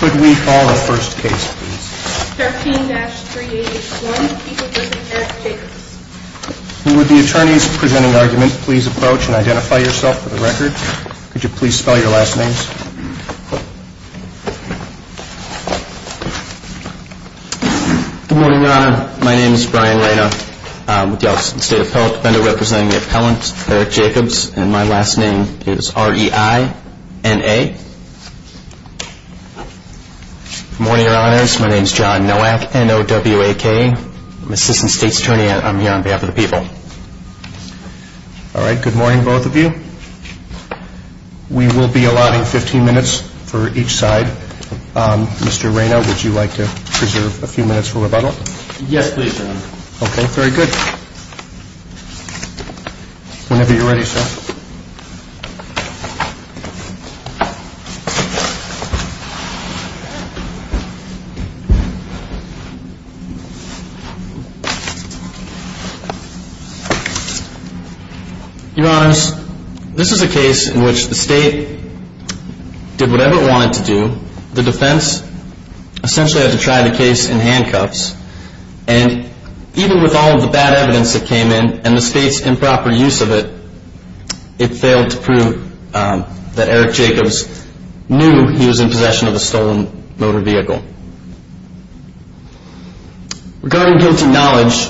Could we call the first case, please? 13-381, Equal District, Jacobs. Would the attorneys presenting the argument please approach and identify yourself for the record? Could you please spell your last names? Good morning, Your Honor. My name is Brian Reyna. I'm with the Office of the State Appellate Defender representing the appellant, Eric Jacobs. And my last name is R-E-I-N-A. Good morning, Your Honors. My name is John Nowak, N-O-W-A-K. I'm Assistant State's Attorney and I'm here on behalf of the people. All right. Good morning, both of you. We will be allotting 15 minutes for each side. Mr. Reyna, would you like to preserve a few minutes for rebuttal? Yes, please, Your Honor. Okay, very good. Whenever you're ready, sir. Your Honors, this is a case in which the state did whatever it wanted to do. The defense essentially had to try the case in handcuffs. And even with all of the bad evidence that came in and the state's improper use of it, it failed to prove that Eric Jacobs knew he was in possession of a stolen motor vehicle. Regarding guilty knowledge,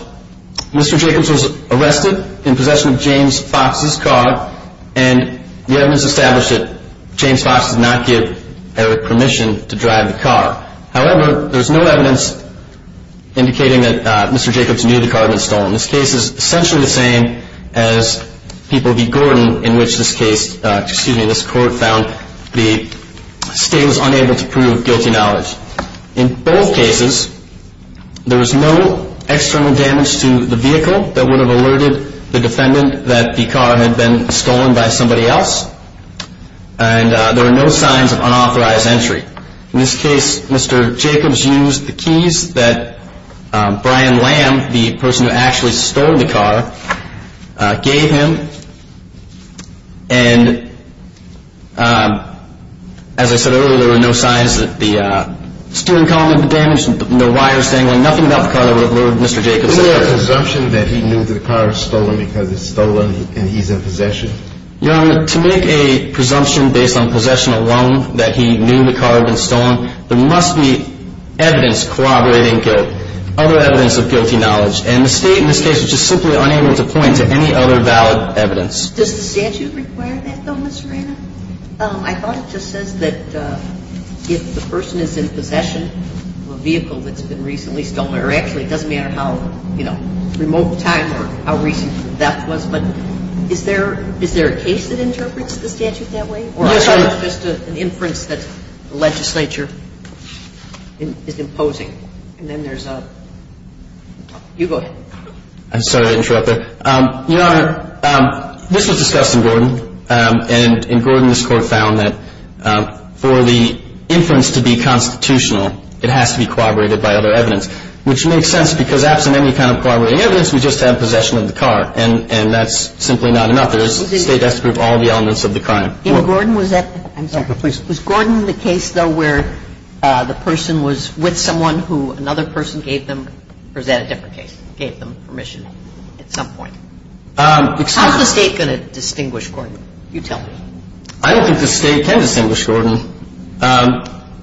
Mr. Jacobs was arrested in possession of James Fox's car and the evidence established that James Fox did not give Eric permission to drive the car. However, there's no evidence indicating that Mr. Jacobs knew the car had been stolen. This case is essentially the same as People v. Gordon, in which this case, excuse me, this court found the state was unable to prove guilty knowledge. In both cases, there was no external damage to the vehicle that would have alerted the defendant that the car had been stolen by somebody else. And there were no signs of unauthorized entry. In this case, Mr. Jacobs used the keys that Brian Lamb, the person who actually stole the car, gave him. And as I said earlier, there were no signs of the steering column being damaged, no wires dangling, nothing about the car that would have alerted Mr. Jacobs. Was there a presumption that he knew the car was stolen because it's stolen and he's in possession? Your Honor, to make a presumption based on possession alone that he knew the car had been stolen, there must be evidence corroborating other evidence of guilty knowledge. And the state in this case is just simply unable to point to any other valid evidence. Does the statute require that, though, Ms. Rana? I thought it just says that if the person is in possession of a vehicle that's been recently stolen, or actually it doesn't matter how, you know, remote time or how recent the theft was, but is there a case that interprets the statute that way? Or is it just an inference that the legislature is imposing? And then there's a – you go ahead. I'm sorry to interrupt there. Your Honor, this was discussed in Gordon. And in Gordon, this Court found that for the inference to be constitutional, it has to be corroborated by other evidence, which makes sense because absent any kind of corroborating evidence, we just have possession of the car. And that's simply not enough. The state has to prove all the elements of the crime. In Gordon, was that – I'm sorry. Was Gordon the case, though, where the person was with someone who another person gave them – or is that a different case, gave them permission at some point? How is the state going to distinguish Gordon? You tell me. I don't think the state can distinguish Gordon.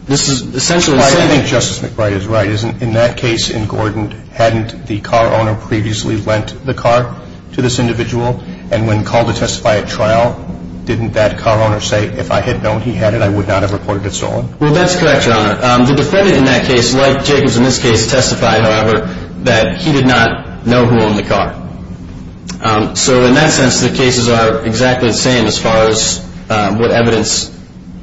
This is essentially saying – I think Justice McBride is right. In that case in Gordon, hadn't the car owner previously lent the car to this individual? And when called to testify at trial, didn't that car owner say, if I had known he had it, I would not have reported it stolen? Well, that's correct, Your Honor. The defendant in that case, like Jacobs in this case, testified, however, that he did not know who owned the car. So in that sense, the cases are exactly the same as far as what evidence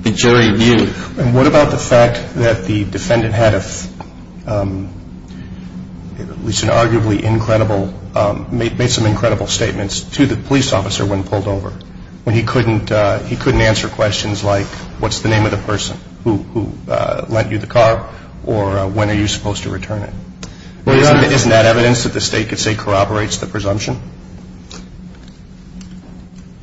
the jury viewed. And what about the fact that the defendant had at least an arguably incredible – made some incredible statements to the police officer when pulled over, when he couldn't answer questions like, what's the name of the person who lent you the car, or when are you supposed to return it? Isn't that evidence that the state could say corroborates the presumption?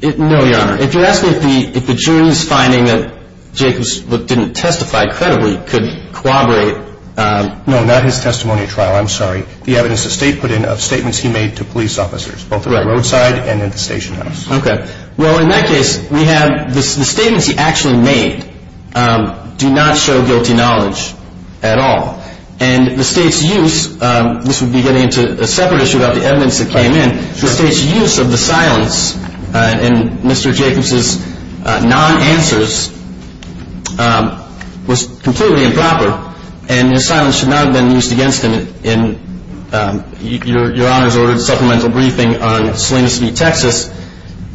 No, Your Honor. If you're asking if the jury's finding that Jacobs didn't testify credibly could corroborate – No, not his testimony at trial. I'm sorry. The evidence the state put in of statements he made to police officers, both at the roadside and at the station house. Okay. Well, in that case, we have – the statements he actually made do not show guilty knowledge at all. And the state's use – this would be getting into a separate issue about the evidence that came in – the state's use of the silence in Mr. Jacobs' non-answers was completely improper. And the silence should not have been used against him in – Your Honor's ordered supplemental briefing on Salinas v. Texas.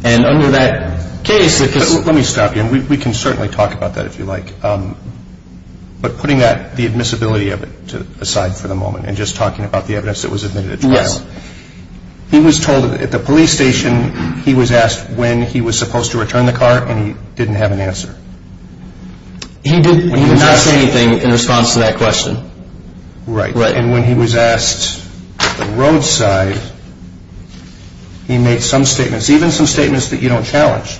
And under that case – Let me stop you. We can certainly talk about that if you like. But putting that – the admissibility of it aside for the moment and just talking about the evidence that was admitted at trial. Yes. He was told at the police station he was asked when he was supposed to return the car and he didn't have an answer. He did not say anything in response to that question. Right. Right. And when he was asked at the roadside, he made some statements, even some statements that you don't challenge.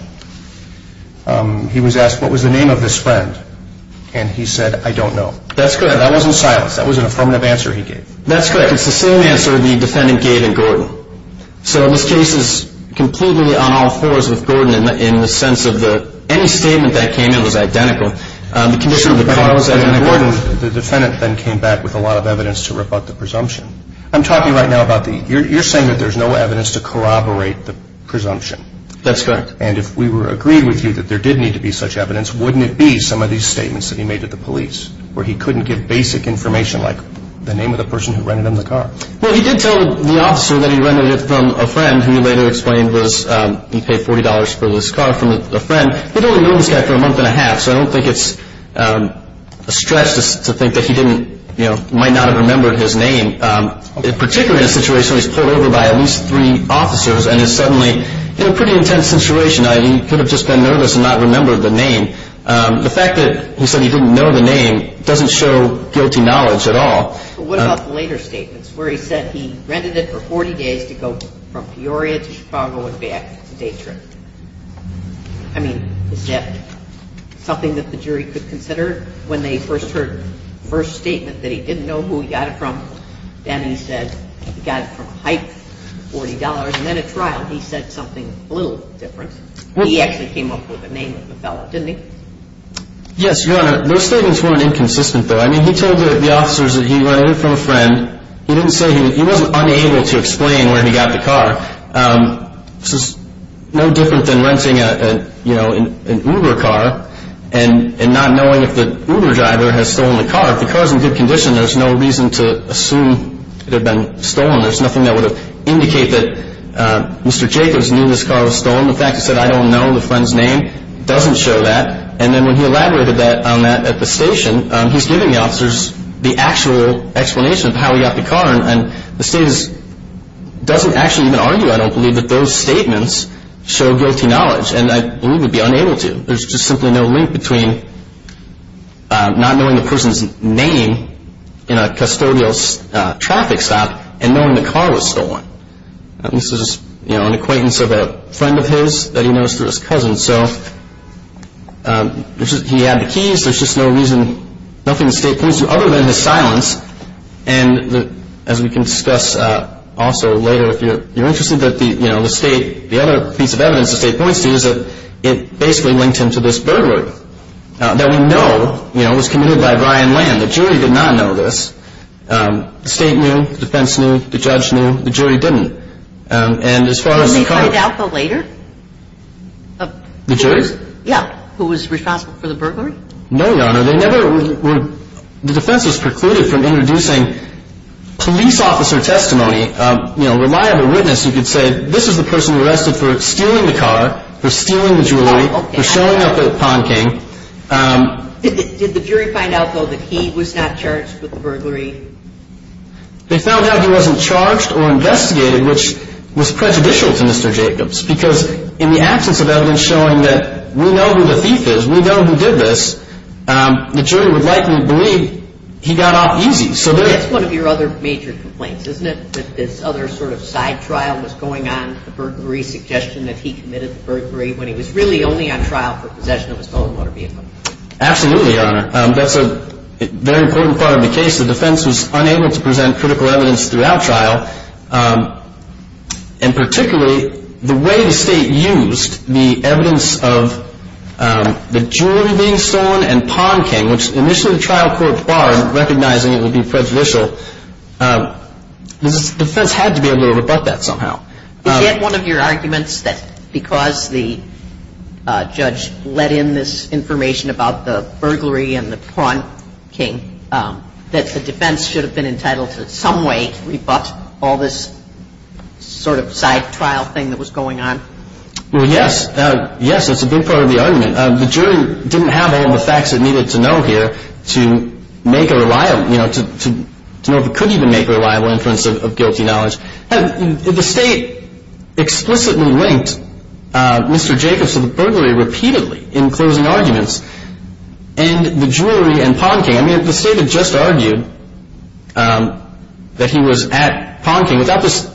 He was asked, what was the name of this friend? And he said, I don't know. That's correct. That wasn't silence. That was an affirmative answer he gave. That's correct. It's the same answer the defendant gave in Gordon. So this case is completely on all fours with Gordon in the sense of any statement that came in was identical. The condition of the car was identical. The defendant then came back with a lot of evidence to rebut the presumption. I'm talking right now about the – you're saying that there's no evidence to corroborate the presumption. That's correct. And if we were agreed with you that there did need to be such evidence, wouldn't it be some of these statements that he made to the police where he couldn't give basic information like the name of the person who rented him the car? Well, he did tell the officer that he rented it from a friend who he later explained was he paid $40 for this car from a friend. He'd only known this guy for a month and a half, so I don't think it's a stretch to think that he didn't, you know, might not have remembered his name. In particular in a situation where he's pulled over by at least three officers and is suddenly in a pretty intense situation, he could have just been nervous and not remembered the name. The fact that he said he didn't know the name doesn't show guilty knowledge at all. But what about the later statements where he said he rented it for 40 days to go from Peoria to Chicago and back. It's a day trip. I mean, is that something that the jury could consider when they first heard the first statement that he didn't know who he got it from? Then he said he got it from a hype, $40, and then at trial he said something a little different. He actually came up with the name of the fellow, didn't he? Yes, Your Honor, those statements weren't inconsistent, though. I mean, he told the officers that he rented it from a friend. He didn't say he was unable to explain where he got the car. This is no different than renting an Uber car and not knowing if the Uber driver has stolen the car. If the car is in good condition, there's no reason to assume it had been stolen. There's nothing that would indicate that Mr. Jacobs knew this car was stolen. The fact that he said I don't know the friend's name doesn't show that. And then when he elaborated on that at the station, he's giving the officers the actual explanation of how he got the car. And the state doesn't actually even argue, I don't believe, that those statements show guilty knowledge, and I believe would be unable to. There's just simply no link between not knowing the person's name in a custodial traffic stop and knowing the car was stolen. This is an acquaintance of a friend of his that he knows through his cousin. So he had the keys. There's just no reason, nothing the state points to other than his silence. And as we can discuss also later, if you're interested, the other piece of evidence the state points to is that it basically linked him to this burglary that we know was committed by Ryan Land. The jury did not know this. The state knew. The defense knew. The judge knew. The jury didn't. And as far as the car- Can they find out the later? The jurors? Yeah. Who was responsible for the burglary? No, Your Honor. The defense was precluded from introducing police officer testimony, you know, reliable witness who could say, this is the person arrested for stealing the car, for stealing the jewelry, for showing up at Pond King. Did the jury find out, though, that he was not charged with the burglary? They found out he wasn't charged or investigated, which was prejudicial to Mr. Jacobs, because in the absence of evidence showing that we know who the thief is, we know who did this, the jury would likely believe he got off easy. That's one of your other major complaints, isn't it, that this other sort of side trial was going on, the burglary suggestion that he committed the burglary when he was really only on trial for possession of his own motor vehicle? Absolutely, Your Honor. That's a very important part of the case. The defense was unable to present critical evidence throughout trial, and particularly the way the state used the evidence of the jewelry being stolen and Pond King, which initially the trial court barred recognizing it would be prejudicial. The defense had to be able to rebut that somehow. Is that one of your arguments, that because the judge let in this information about the burglary and the Pond King, that the defense should have been entitled to some way to rebut all this sort of side trial thing that was going on? Well, yes. Yes, that's a big part of the argument. The jury didn't have all the facts it needed to know here to make a reliable, you know, to know if it could even make a reliable inference of guilty knowledge. The state explicitly linked Mr. Jacobs to the burglary repeatedly in closing arguments, and the jewelry and Pond King. I mean, the state had just argued that he was at Pond King without this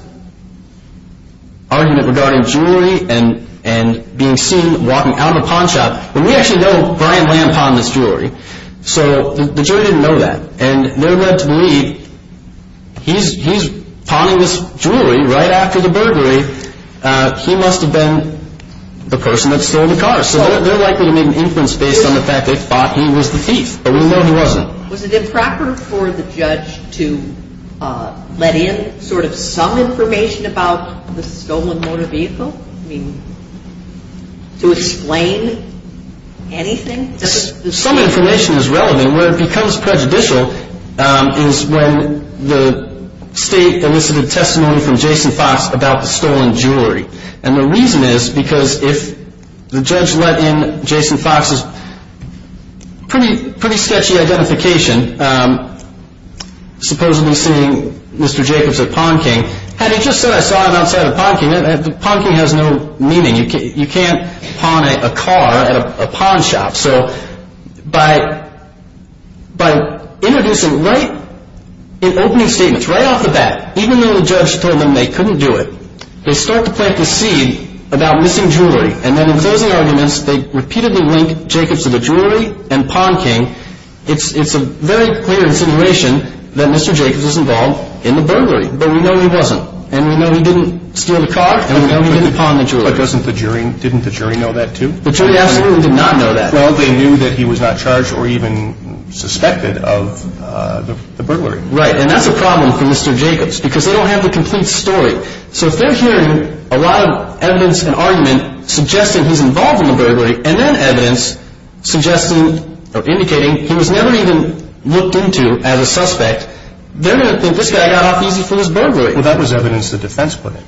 argument regarding jewelry and being seen walking out of a Pond shop. But we actually know Brian Lamb pawned this jewelry, so the jury didn't know that. And they're led to believe he's pawning this jewelry right after the burglary. He must have been the person that stole the car. So they're likely to make an inference based on the fact they thought he was the thief, but we know he wasn't. Was it improper for the judge to let in sort of some information about the stolen motor vehicle? I mean, to explain anything? Some information is relevant. Where it becomes prejudicial is when the state elicited testimony from Jason Fox about the stolen jewelry. And the reason is because if the judge let in Jason Fox's pretty sketchy identification, supposedly seeing Mr. Jacobs at Pond King, had he just said, I saw him outside of Pond King, Pond King has no meaning. You can't pawn a car at a Pond shop. So by introducing right in opening statements, right off the bat, even though the judge told them they couldn't do it, they start to plant the seed about missing jewelry. And then in closing arguments, they repeatedly link Jacobs to the jewelry and Pond King. It's a very clear insinuation that Mr. Jacobs was involved in the burglary, but we know he wasn't. And we know he didn't steal the car, and we know he didn't pawn the jewelry. But didn't the jury know that too? The jury absolutely did not know that. Well, they knew that he was not charged or even suspected of the burglary. Right, and that's a problem for Mr. Jacobs, because they don't have the complete story. So if they're hearing a lot of evidence and argument suggesting he's involved in the burglary, and then evidence suggesting or indicating he was never even looked into as a suspect, they're going to think this guy got off easy for his burglary. Well, that was evidence the defense put in.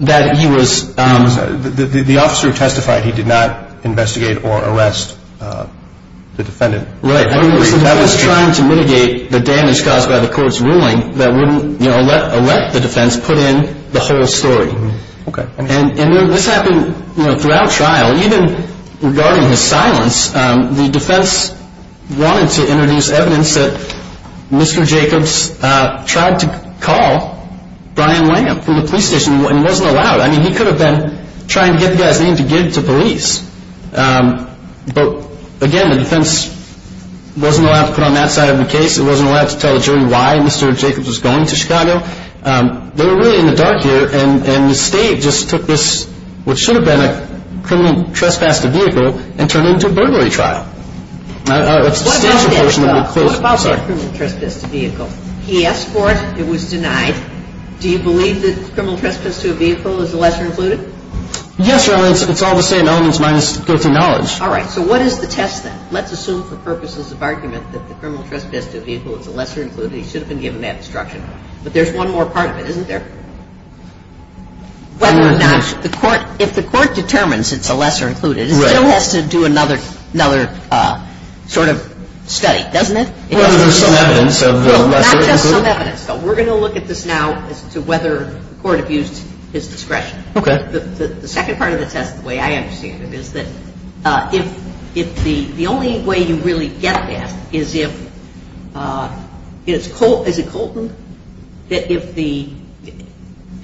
That he was... The officer who testified, he did not investigate or arrest the defendant. Right. He was trying to mitigate the damage caused by the court's ruling that wouldn't let the defense put in the whole story. Okay. And this happened throughout trial. Even regarding his silence, the defense wanted to introduce evidence that Mr. Jacobs tried to call Brian Lamb from the police station, and he wasn't allowed. I mean, he could have been trying to get the guy's name to give to police. But, again, the defense wasn't allowed to put on that side of the case. It wasn't allowed to tell the jury why Mr. Jacobs was going to Chicago. They were really in the dark here, and the state just took this, which should have been a criminal trespass to vehicle, and turned it into a burglary trial. It's the special version that we closed. What about that criminal trespass to vehicle? He asked for it. It was denied. Do you believe that criminal trespass to a vehicle is the lesser included? Yes, Your Honor. Well, it's all the same elements minus guilty knowledge. All right. So what is the test, then? Let's assume for purposes of argument that the criminal trespass to a vehicle is the lesser included. He should have been given that instruction. But there's one more part of it, isn't there? Whether or not the court – if the court determines it's the lesser included, it still has to do another sort of study, doesn't it? Whether there's some evidence of the lesser included. Well, not just some evidence, though. We're going to look at this now as to whether the court abused his discretion. Okay. The second part of the test, the way I understand it, is that if the only way you really get that is if – is it Colton? That if the –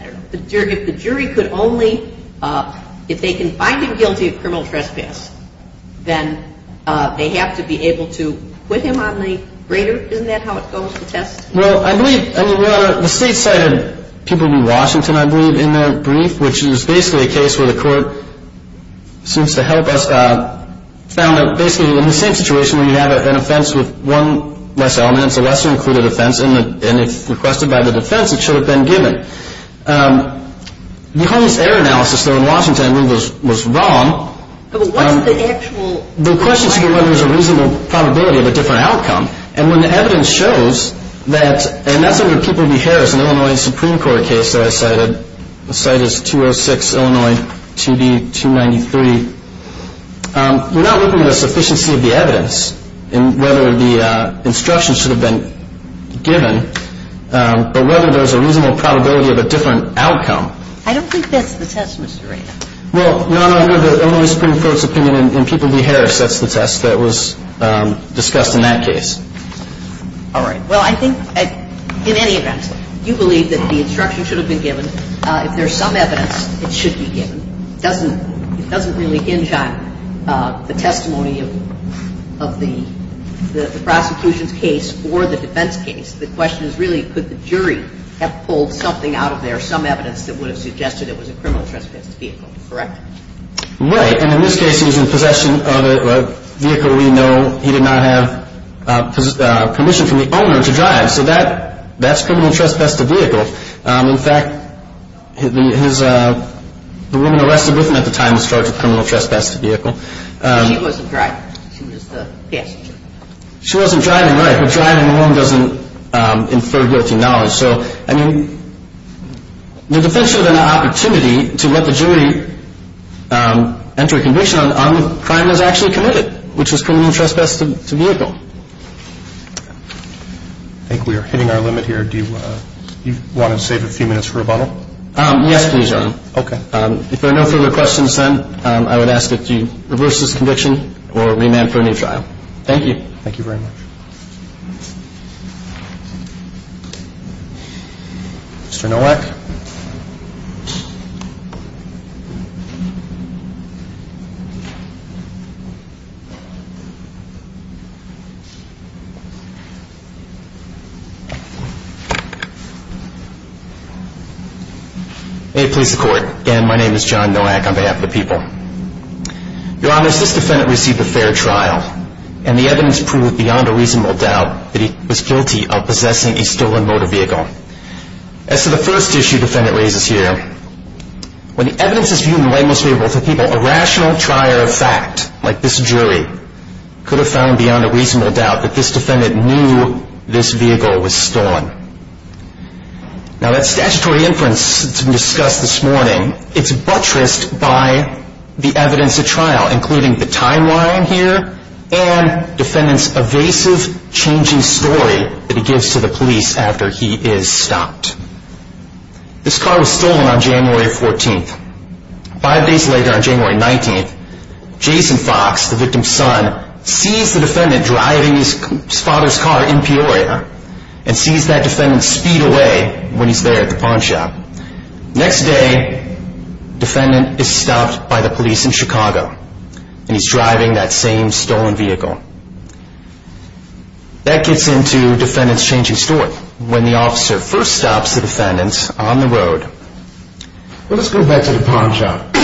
I don't know – if the jury could only – if they can find him guilty of criminal trespass, then they have to be able to put him on the grader. Isn't that how it goes, the test? Well, I believe – I mean, we're on a – the state cited people in Washington, I believe, in their brief, which is basically a case where the court seems to help us – found that basically in the same situation where you have an offense with one less element, it's a lesser included offense, and if requested by the defense, it should have been given. The Holmes error analysis, though, in Washington, I believe, was wrong. But what is the actual – The question is whether there's a reasonable probability of a different outcome. And when the evidence shows that – and that's under People v. Harris, an Illinois Supreme Court case that I cited. The site is 206, Illinois, 2B, 293. We're not looking at a sufficiency of the evidence in whether the instruction should have been given, but whether there's a reasonable probability of a different outcome. I don't think that's the test, Mr. Rand. Well, no, no, no. The Illinois Supreme Court's opinion in People v. Harris sets the test that was discussed in that case. All right. Well, I think in any event, you believe that the instruction should have been given. If there's some evidence, it should be given. It doesn't really hinge on the testimony of the prosecution's case or the defense case. The question is really could the jury have pulled something out of there, if there's some evidence that would have suggested it was a criminal trespass vehicle, correct? Right. And in this case, he was in possession of a vehicle we know he did not have permission from the owner to drive. So that's criminal trespass to vehicle. In fact, the woman arrested with him at the time was charged with criminal trespass to vehicle. She wasn't driving. She was the passenger. She wasn't driving, right. A driver driving alone doesn't infer guilty knowledge. So, I mean, the defense should have had an opportunity to let the jury enter a conviction on the crime that was actually committed, which was criminal trespass to vehicle. I think we are hitting our limit here. Do you want to save a few minutes for rebuttal? Yes, please, Your Honor. Okay. If there are no further questions, then I would ask that you reverse this conviction or remand for a new trial. Thank you. Thank you very much. Mr. Nowak. May it please the Court. Again, my name is John Nowak on behalf of the people. Your Honor, this defendant received a fair trial, and the evidence proved beyond a reasonable doubt that he was guilty of possessing a stolen motor vehicle. As to the first issue defendant raises here, when the evidence is viewed in the light most favorable to people, a rational trier of fact like this jury could have found beyond a reasonable doubt that this defendant knew this vehicle was stolen. Now, that statutory inference that has been discussed this morning, it's buttressed by the evidence at trial, including the timeline here and defendant's evasive changing story that he gives to the police after he is stopped. This car was stolen on January 14th. Five days later, on January 19th, Jason Fox, the victim's son, sees the defendant driving his father's car in Peoria, and sees that defendant speed away when he's there at the pawn shop. Next day, defendant is stopped by the police in Chicago, and he's driving that same stolen vehicle. That gets into defendant's changing story. When the officer first stops the defendant on the road... Well, let's go back to the pawn shop.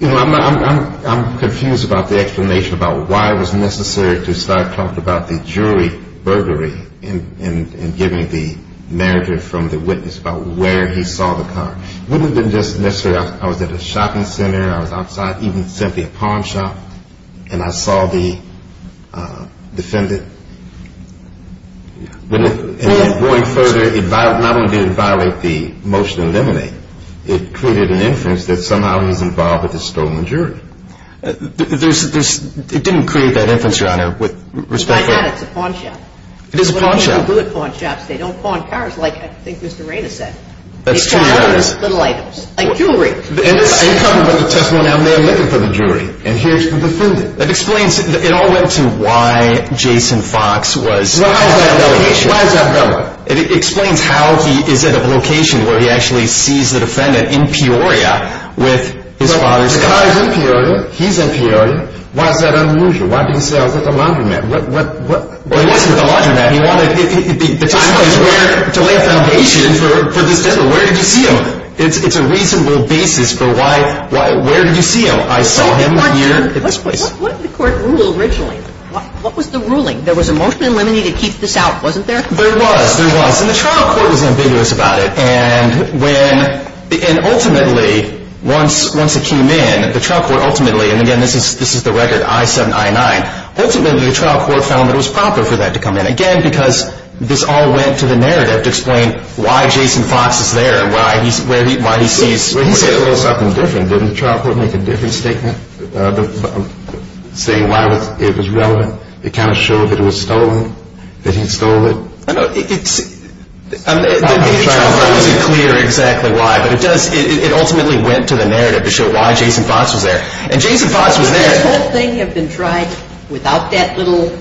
You know, I'm confused about the explanation about why it was necessary to start talking about the jury burglary and giving the manager from the witness about where he saw the car. Wouldn't it have been just necessary, I was at a shopping center, I was outside, even simply a pawn shop, and I saw the defendant? Going further, not only did it violate the motion to eliminate, it created an inference that somehow he was involved with the stolen jury. It didn't create that inference, Your Honor, with respect to... I got it, it's a pawn shop. It is a pawn shop. That's what people do at pawn shops, they don't pawn cars like I think Mr. Rainer said. That's true, Your Honor. They pawn other little items, like jewelry. You're talking about the testimony, I'm there looking for the jury, and here's the defendant. It explains, it all went to why Jason Fox was at the location. Why is that relevant? It explains how he is at a location where he actually sees the defendant in Peoria with his father's car. The car is in Peoria, he's in Peoria, why is that an allusion? Why did he say I was at the laundromat? Well, he wasn't at the laundromat, he wanted to lay a foundation for this case. Where did you see him? It's a reasonable basis for why, where did you see him? I saw him here at this place. What did the court rule originally? What was the ruling? There was a motion in limine to keep this out, wasn't there? There was, there was. And the trial court was ambiguous about it. And ultimately, once it came in, the trial court ultimately, and again, this is the record, I-7, I-9. Ultimately, the trial court found that it was proper for that to come in. Again, because this all went to the narrative to explain why Jason Fox is there, why he sees... Didn't the trial court make a different statement saying why it was relevant? It kind of showed that it was stolen, that he stole it? I know, it's... The trial court wasn't clear exactly why, but it does, it ultimately went to the narrative to show why Jason Fox was there. And Jason Fox was there... Would this whole thing have been tried without that little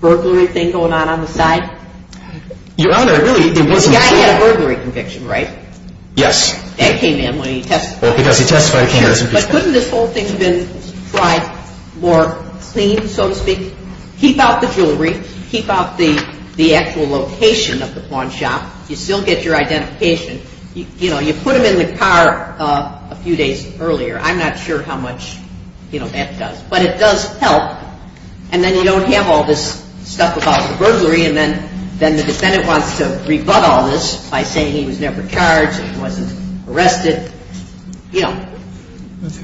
burglary thing going on on the side? Your Honor, really, it wasn't... The guy had a burglary conviction, right? Yes. That came in when he testified. Because he testified... But couldn't this whole thing have been tried more clean, so to speak? Keep out the jewelry, keep out the actual location of the pawn shop. You still get your identification. You know, you put him in the car a few days earlier. I'm not sure how much, you know, that does. But it does help, and then you don't have all this stuff about the burglary, and then the defendant wants to rebut all this by saying he was never charged, he wasn't arrested, you know.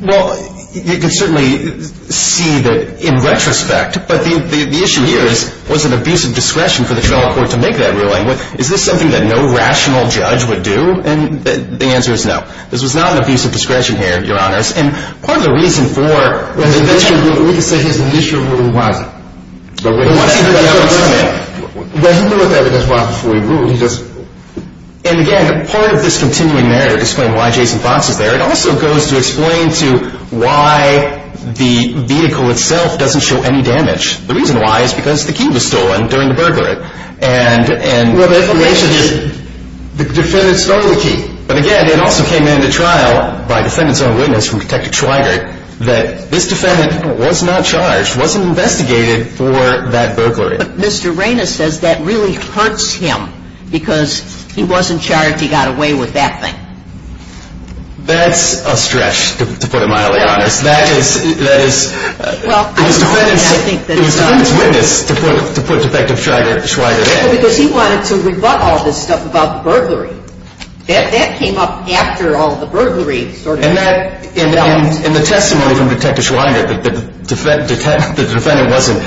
Well, you can certainly see that in retrospect, but the issue here is, was it an abuse of discretion for the trial court to make that ruling? Is this something that no rational judge would do? And the answer is no. This was not an abuse of discretion here, Your Honor. And part of the reason for... We can say his initial ruling was. But once he heard the evidence in it... Well, he knew what the evidence was before he ruled, he just... And again, part of this continuing narrative to explain why Jason Fox is there, it also goes to explain to why the vehicle itself doesn't show any damage. The reason why is because the key was stolen during the burglary. And... Well, the information is... The defendant stole the key. But again, it also came into trial by defendant's own witness from Detective Schweigert that this defendant was not charged, wasn't investigated for that burglary. But Mr. Raines says that really hurts him because he wasn't charged, he got away with that thing. That's a stretch, to put it mildly, Your Honor. That is... Well, I think that... It was defendant's witness to put Detective Schweigert in. Because he wanted to rebut all this stuff about the burglary. That came up after all the burglary sort of... And the testimony from Detective Schweigert that the defendant wasn't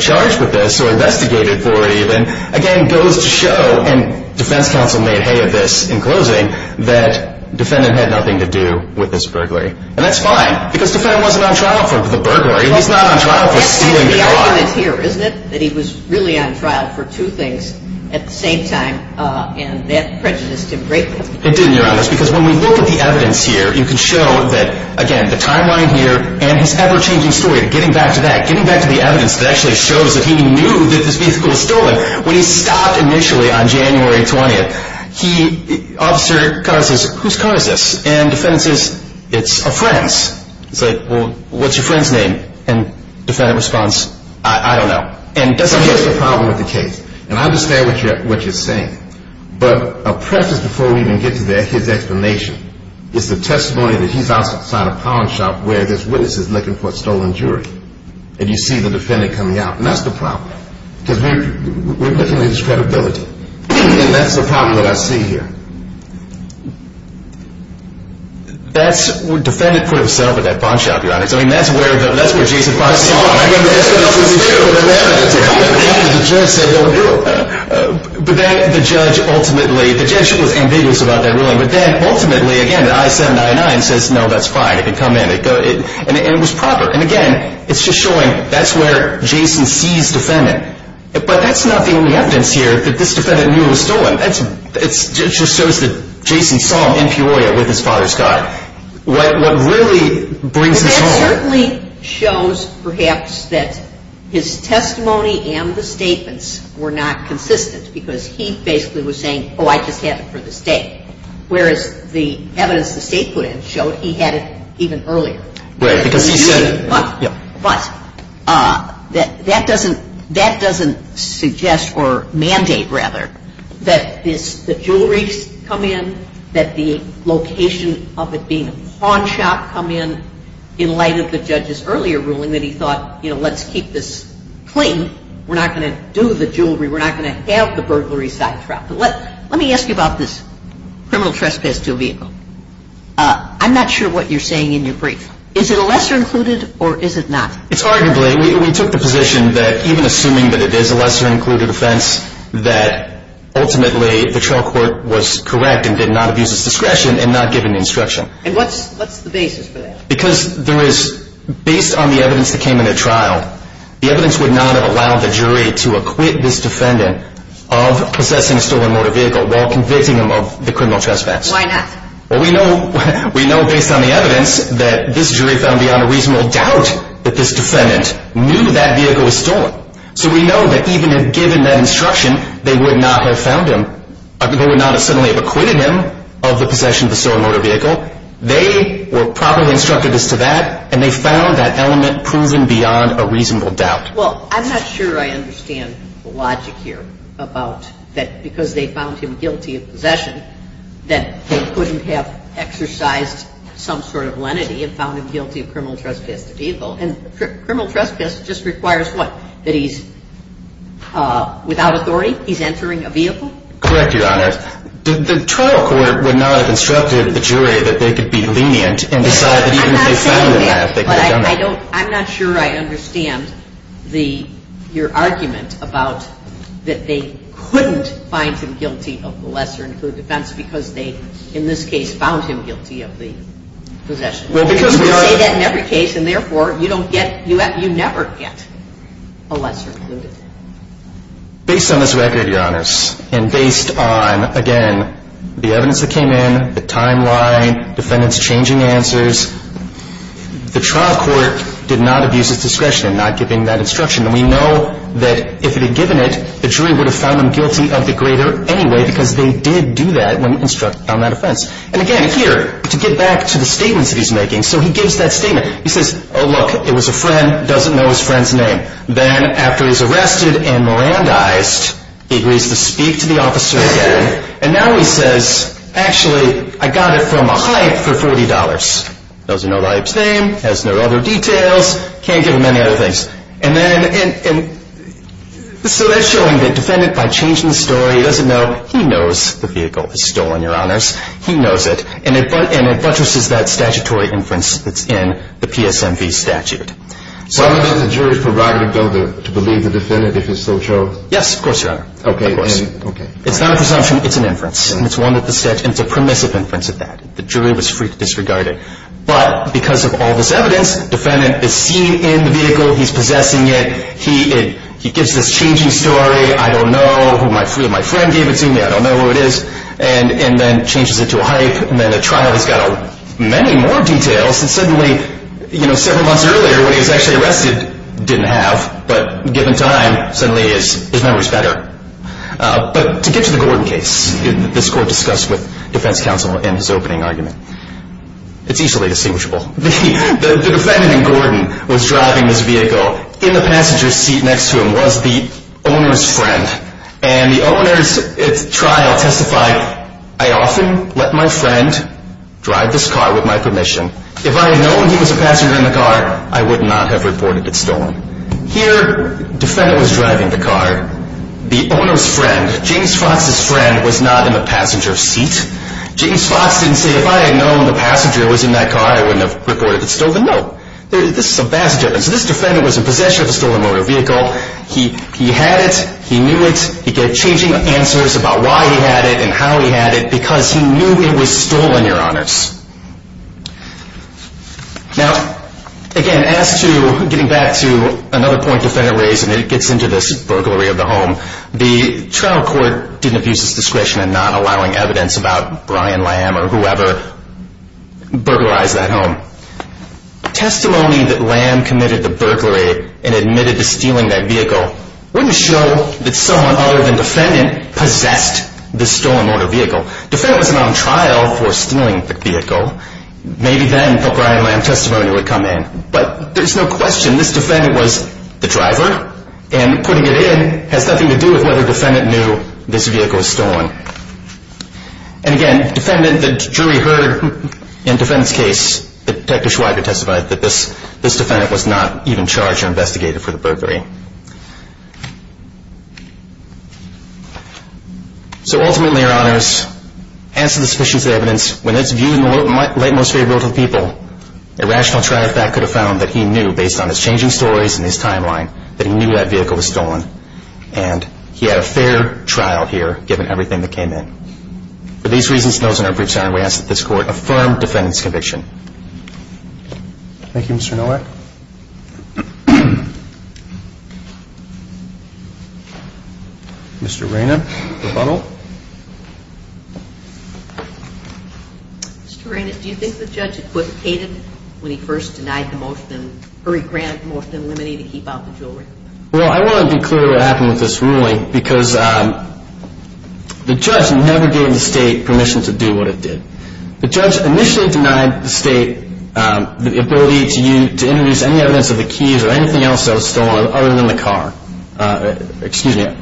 charged with this or investigated for it even, again, goes to show, and defense counsel made hay of this in closing, that defendant had nothing to do with this burglary. And that's fine because defendant wasn't on trial for the burglary. He's not on trial for stealing the car. The argument here, isn't it, that he was really on trial for two things at the same time and that prejudiced him greatly? It didn't, Your Honor. Because when we look at the evidence here, you can show that, again, the timeline here and his ever-changing story, getting back to that, getting back to the evidence that actually shows that he knew that this vehicle was stolen. When he stopped initially on January 20th, he... Officer says, who's car is this? And defendant says, it's a friend's. He's like, well, what's your friend's name? And defendant responds, I don't know. And that's the problem with the case. And I understand what you're saying. But a preface before we even get to that, his explanation, is the testimony that he's outside a pawn shop where this witness is looking for a stolen jewelry. And you see the defendant coming out. And that's the problem. Because we're looking at his credibility. And that's the problem that I see here. That's where defendant put himself at that pawn shop, Your Honor. I mean, that's where Jason Fox saw him. I mean, that's what else is true. But then the judge ultimately, the judge was ambiguous about that ruling. But then ultimately, again, the I-799 says, no, that's fine. It can come in. And it was proper. And, again, it's just showing that's where Jason sees defendant. But that's not the only evidence here that this defendant knew it was stolen. It just shows that Jason saw him in Peoria with his father's car. What really brings this home. That certainly shows, perhaps, that his testimony and the statements were not consistent. Because he basically was saying, oh, I just had it for the state. Whereas the evidence the state put in showed he had it even earlier. Right. Because he said it. But that doesn't suggest or mandate, rather, that the jewelry come in, that the location of it being a pawn shop come in in light of the judge's earlier ruling that he thought, you know, let's keep this clean. We're not going to do the jewelry. We're not going to have the burglary side trapped. Let me ask you about this criminal trespass to a vehicle. I'm not sure what you're saying in your brief. Is it a lesser included or is it not? It's arguably, we took the position that even assuming that it is a lesser included offense, that ultimately the trial court was correct and did not abuse its discretion and not give an instruction. And what's the basis for that? Because there is, based on the evidence that came in the trial, the evidence would not have allowed the jury to acquit this defendant of possessing a stolen motor vehicle while convicting him of the criminal trespass. Why not? Well, we know based on the evidence that this jury found beyond a reasonable doubt that this defendant knew that vehicle was stolen. So we know that even if given that instruction, they would not have found him, they would not have suddenly acquitted him of the possession of the stolen motor vehicle. They were properly instructed as to that, and they found that element proven beyond a reasonable doubt. Well, I'm not sure I understand the logic here about that because they found him guilty of possession, that they couldn't have exercised some sort of lenity and found him guilty of criminal trespass. And criminal trespass just requires what? That he's without authority? He's entering a vehicle? Correct, Your Honor. The trial court would not have instructed the jury that they could be lenient and decide that even if they found him, they could have done that. I'm not saying that, but I don't, I'm not sure I understand the, your argument about that they couldn't find him guilty of the lesser-included offense because they, in this case, found him guilty of the possession. Well, because we are. You say that in every case, and therefore, you don't get, you never get a lesser-included offense. Based on this record, Your Honors, and based on, again, the evidence that came in, the timeline, defendants changing answers, the trial court did not abuse its discretion in not giving that instruction. And we know that if it had given it, the jury would have found him guilty of the greater anyway because they did do that when instructed on that offense. And again, here, to get back to the statements that he's making, so he gives that statement. He says, oh, look, it was a friend, doesn't know his friend's name. Then, after he's arrested and Mirandized, he agrees to speak to the officer again, and now he says, actually, I got it from a hype for $40. Doesn't know the hype's name. Has no other details. Can't give him any other things. And then, so that's showing that the defendant, by changing the story, doesn't know. He knows the vehicle was stolen, Your Honors. He knows it. And it buttresses that statutory inference that's in the PSMV statute. Why would the jury's prerogative go to believe the defendant if it's so true? Yes, of course, Your Honor. Okay. Of course. It's not a presumption. It's an inference. And it's one that the statute, and it's a permissive inference at that. The jury was free to disregard it. But, because of all this evidence, defendant is seen in the vehicle, he's possessing it, he gives this changing story, I don't know who my friend gave it to me, I don't know who it is, and then changes it to a hype, and then a trial. He's got many more details, and suddenly, several months earlier, when he was actually arrested, didn't have, but given time, suddenly his memory's better. But to get to the Gordon case, this court discussed with defense counsel in his opening argument, it's easily distinguishable. The defendant in Gordon was driving this vehicle. In the passenger seat next to him was the owner's friend. And the owner's trial testified, I often let my friend drive this car with my permission. If I had known he was a passenger in the car, I would not have reported it stolen. Here, defendant was driving the car. The owner's friend, James Fox's friend, was not in the passenger seat. James Fox didn't say, if I had known the passenger was in that car, I wouldn't have reported it stolen. No. This is a passenger. So this defendant was in possession of a stolen motor vehicle. He had it, he knew it, he gave changing answers about why he had it and how he had it, because he knew it was stolen, Your Honors. Now, again, as to getting back to another point defendant raised, and it gets into this burglary of the home, the trial court didn't abuse its discretion in not allowing evidence about Brian Lamb or whoever burglarized that home. Testimony that Lamb committed the burglary and admitted to stealing that vehicle wouldn't show that someone other than defendant possessed the stolen motor vehicle. Defendant wasn't on trial for stealing the vehicle. Maybe then the Brian Lamb testimony would come in. But there's no question this defendant was the driver, and putting it in has nothing to do with whether defendant knew this vehicle was stolen. And again, defendant, the jury heard in defendant's case that Detective Schweiger testified that this defendant was not even charged or investigated for the burglary. So ultimately, Your Honors, as to the sufficiency of evidence, when it's viewed in the late most favorable to the people, a rational trier of fact could have found that he knew, based on his changing stories and his timeline, that he knew that vehicle was stolen. And he had a fair trial here, given everything that came in. For these reasons, those in our briefs, Your Honor, we ask that this court affirm defendant's conviction. Thank you, Mr. Nowak. Mr. Raynott, rebuttal. Mr. Raynott, do you think the judge equivocated when he first denied the motion, or he granted the motion in limine to keep out the jewelry? Well, I want to be clear what happened with this ruling, because the judge never gave the state permission to do what it did. He didn't use any evidence of the keys or anything else that was stolen other than the car. Excuse me.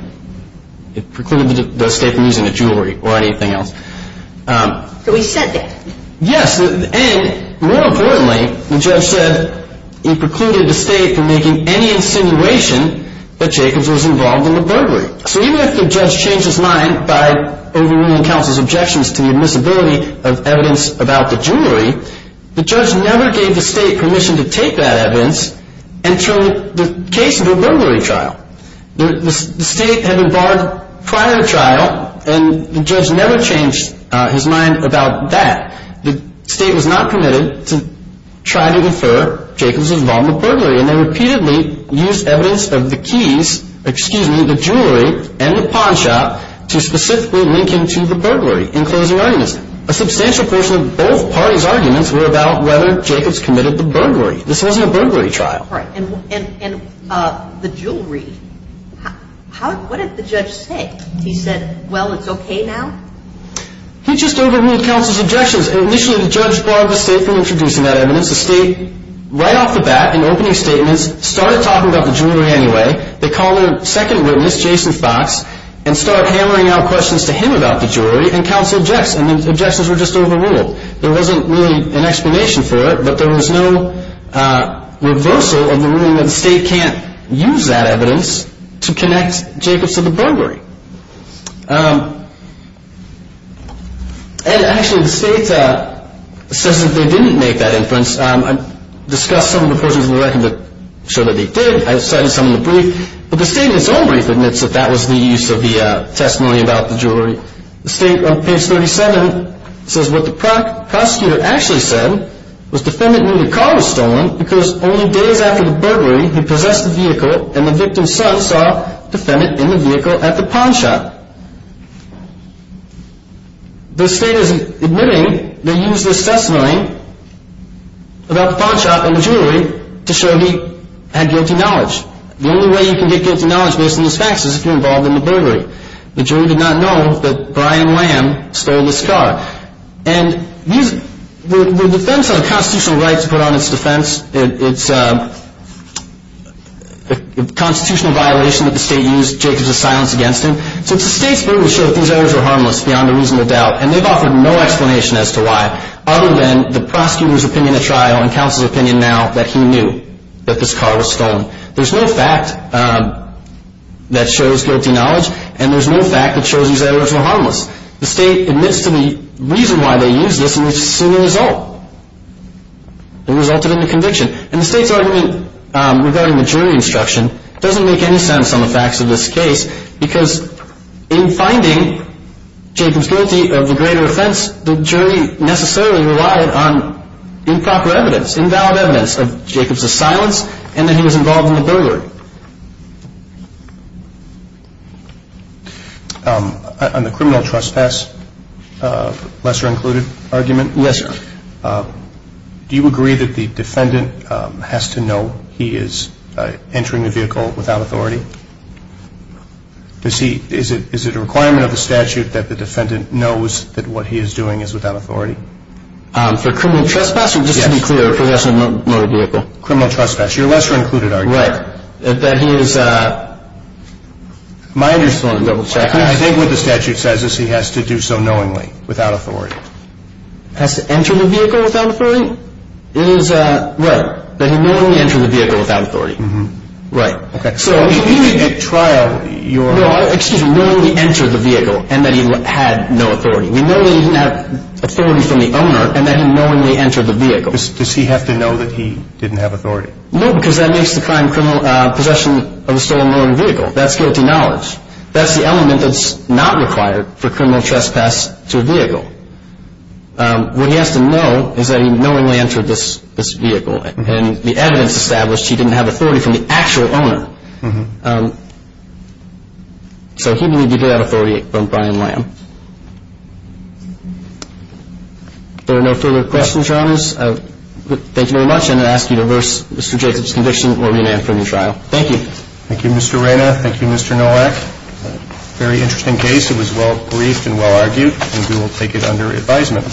It precluded the state from using the jewelry or anything else. So he said that. Yes. And more importantly, the judge said he precluded the state from making any insinuation that Jacobs was involved in the burglary. So even if the judge changed his mind by overruling counsel's objections to the admissibility of evidence about the jewelry, the judge never gave the state permission to take that evidence and turn the case into a burglary trial. The state had been barred prior to trial, and the judge never changed his mind about that. The state was not permitted to try to infer Jacobs was involved in the burglary, and they repeatedly used evidence of the keys, excuse me, the jewelry, and the pawn shop to specifically link him to the burglary in closing arguments. A substantial portion of both parties' arguments were about whether Jacobs committed the burglary. This wasn't a burglary trial. Right. And the jewelry, what did the judge say? He said, well, it's okay now? He just overruled counsel's objections. Initially, the judge barred the state from introducing that evidence. The state, right off the bat in opening statements, started talking about the jewelry anyway. They called their second witness, Jason Fox, and started hammering out questions to him about the jewelry, and counsel objected, and the objections were just overruled. There wasn't really an explanation for it, but there was no reversal of the ruling that the state can't use that evidence to connect Jacobs to the burglary. And actually, the state says that they didn't make that inference. I discussed some of the portions of the record that show that they did. I cited some of the briefs. But the state, in its own brief, admits that that was the use of the testimony about the jewelry. The state, on page 37, says what the prosecutor actually said was the defendant knew the car was stolen because only days after the burglary, he possessed the vehicle, and the victim's son saw the defendant in the vehicle at the pawn shop. The state is admitting they used this testimony about the pawn shop and the jewelry to show he had guilty knowledge. The only way you can get guilty knowledge based on this fact is if you're involved in the burglary. The jury did not know that Brian Lamb stole this car. And the defense had a constitutional right to put on its defense. It's a constitutional violation that the state used Jacobs' silence against him. So the state's burglary showed that these errors were harmless beyond a reasonable doubt, and they've offered no explanation as to why, other than the prosecutor's opinion at trial and counsel's opinion now that he knew that this car was stolen. There's no fact that shows guilty knowledge, and there's no fact that shows these errors were harmless. The state admits to the reason why they used this, and we've seen the result. It resulted in the conviction. And the state's argument regarding the jury instruction doesn't make any sense on the facts of this case because in finding Jacobs guilty of the greater offense, the jury necessarily relied on improper evidence, invalid evidence of Jacobs' silence, and that he was involved in the burglary. On the criminal trespass, lesser included argument. Yes, sir. Do you agree that the defendant has to know he is entering the vehicle without authority? Is it a requirement of the statute that the defendant knows that what he is doing is without authority? For criminal trespass or just to be clear, possession of a motor vehicle? Criminal trespass. You're lesser included argument. Right. That he is a minor. I think what the statute says is he has to do so knowingly, without authority. Has to enter the vehicle without authority? It is right. That he knowingly entered the vehicle without authority. Right. Okay. So at trial, you're... No, excuse me, knowingly entered the vehicle and that he had no authority. We know that he didn't have authority from the owner and that he knowingly entered the vehicle. Does he have to know that he didn't have authority? No, because that makes the crime possession of a stolen motor vehicle. That's guilty knowledge. That's the element that's not required for criminal trespass to a vehicle. What he has to know is that he knowingly entered this vehicle and the evidence established he didn't have authority from the actual owner. So he would need to get that authority from Brian Lamb. Thank you. If there are no further questions, Your Honors, thank you very much. And I ask you to reverse Mr. Jacobs' conviction or rename from the trial. Thank you. Thank you, Mr. Reyna. Thank you, Mr. Nowak. Very interesting case. It was well briefed and well argued, and we will take it under advisement.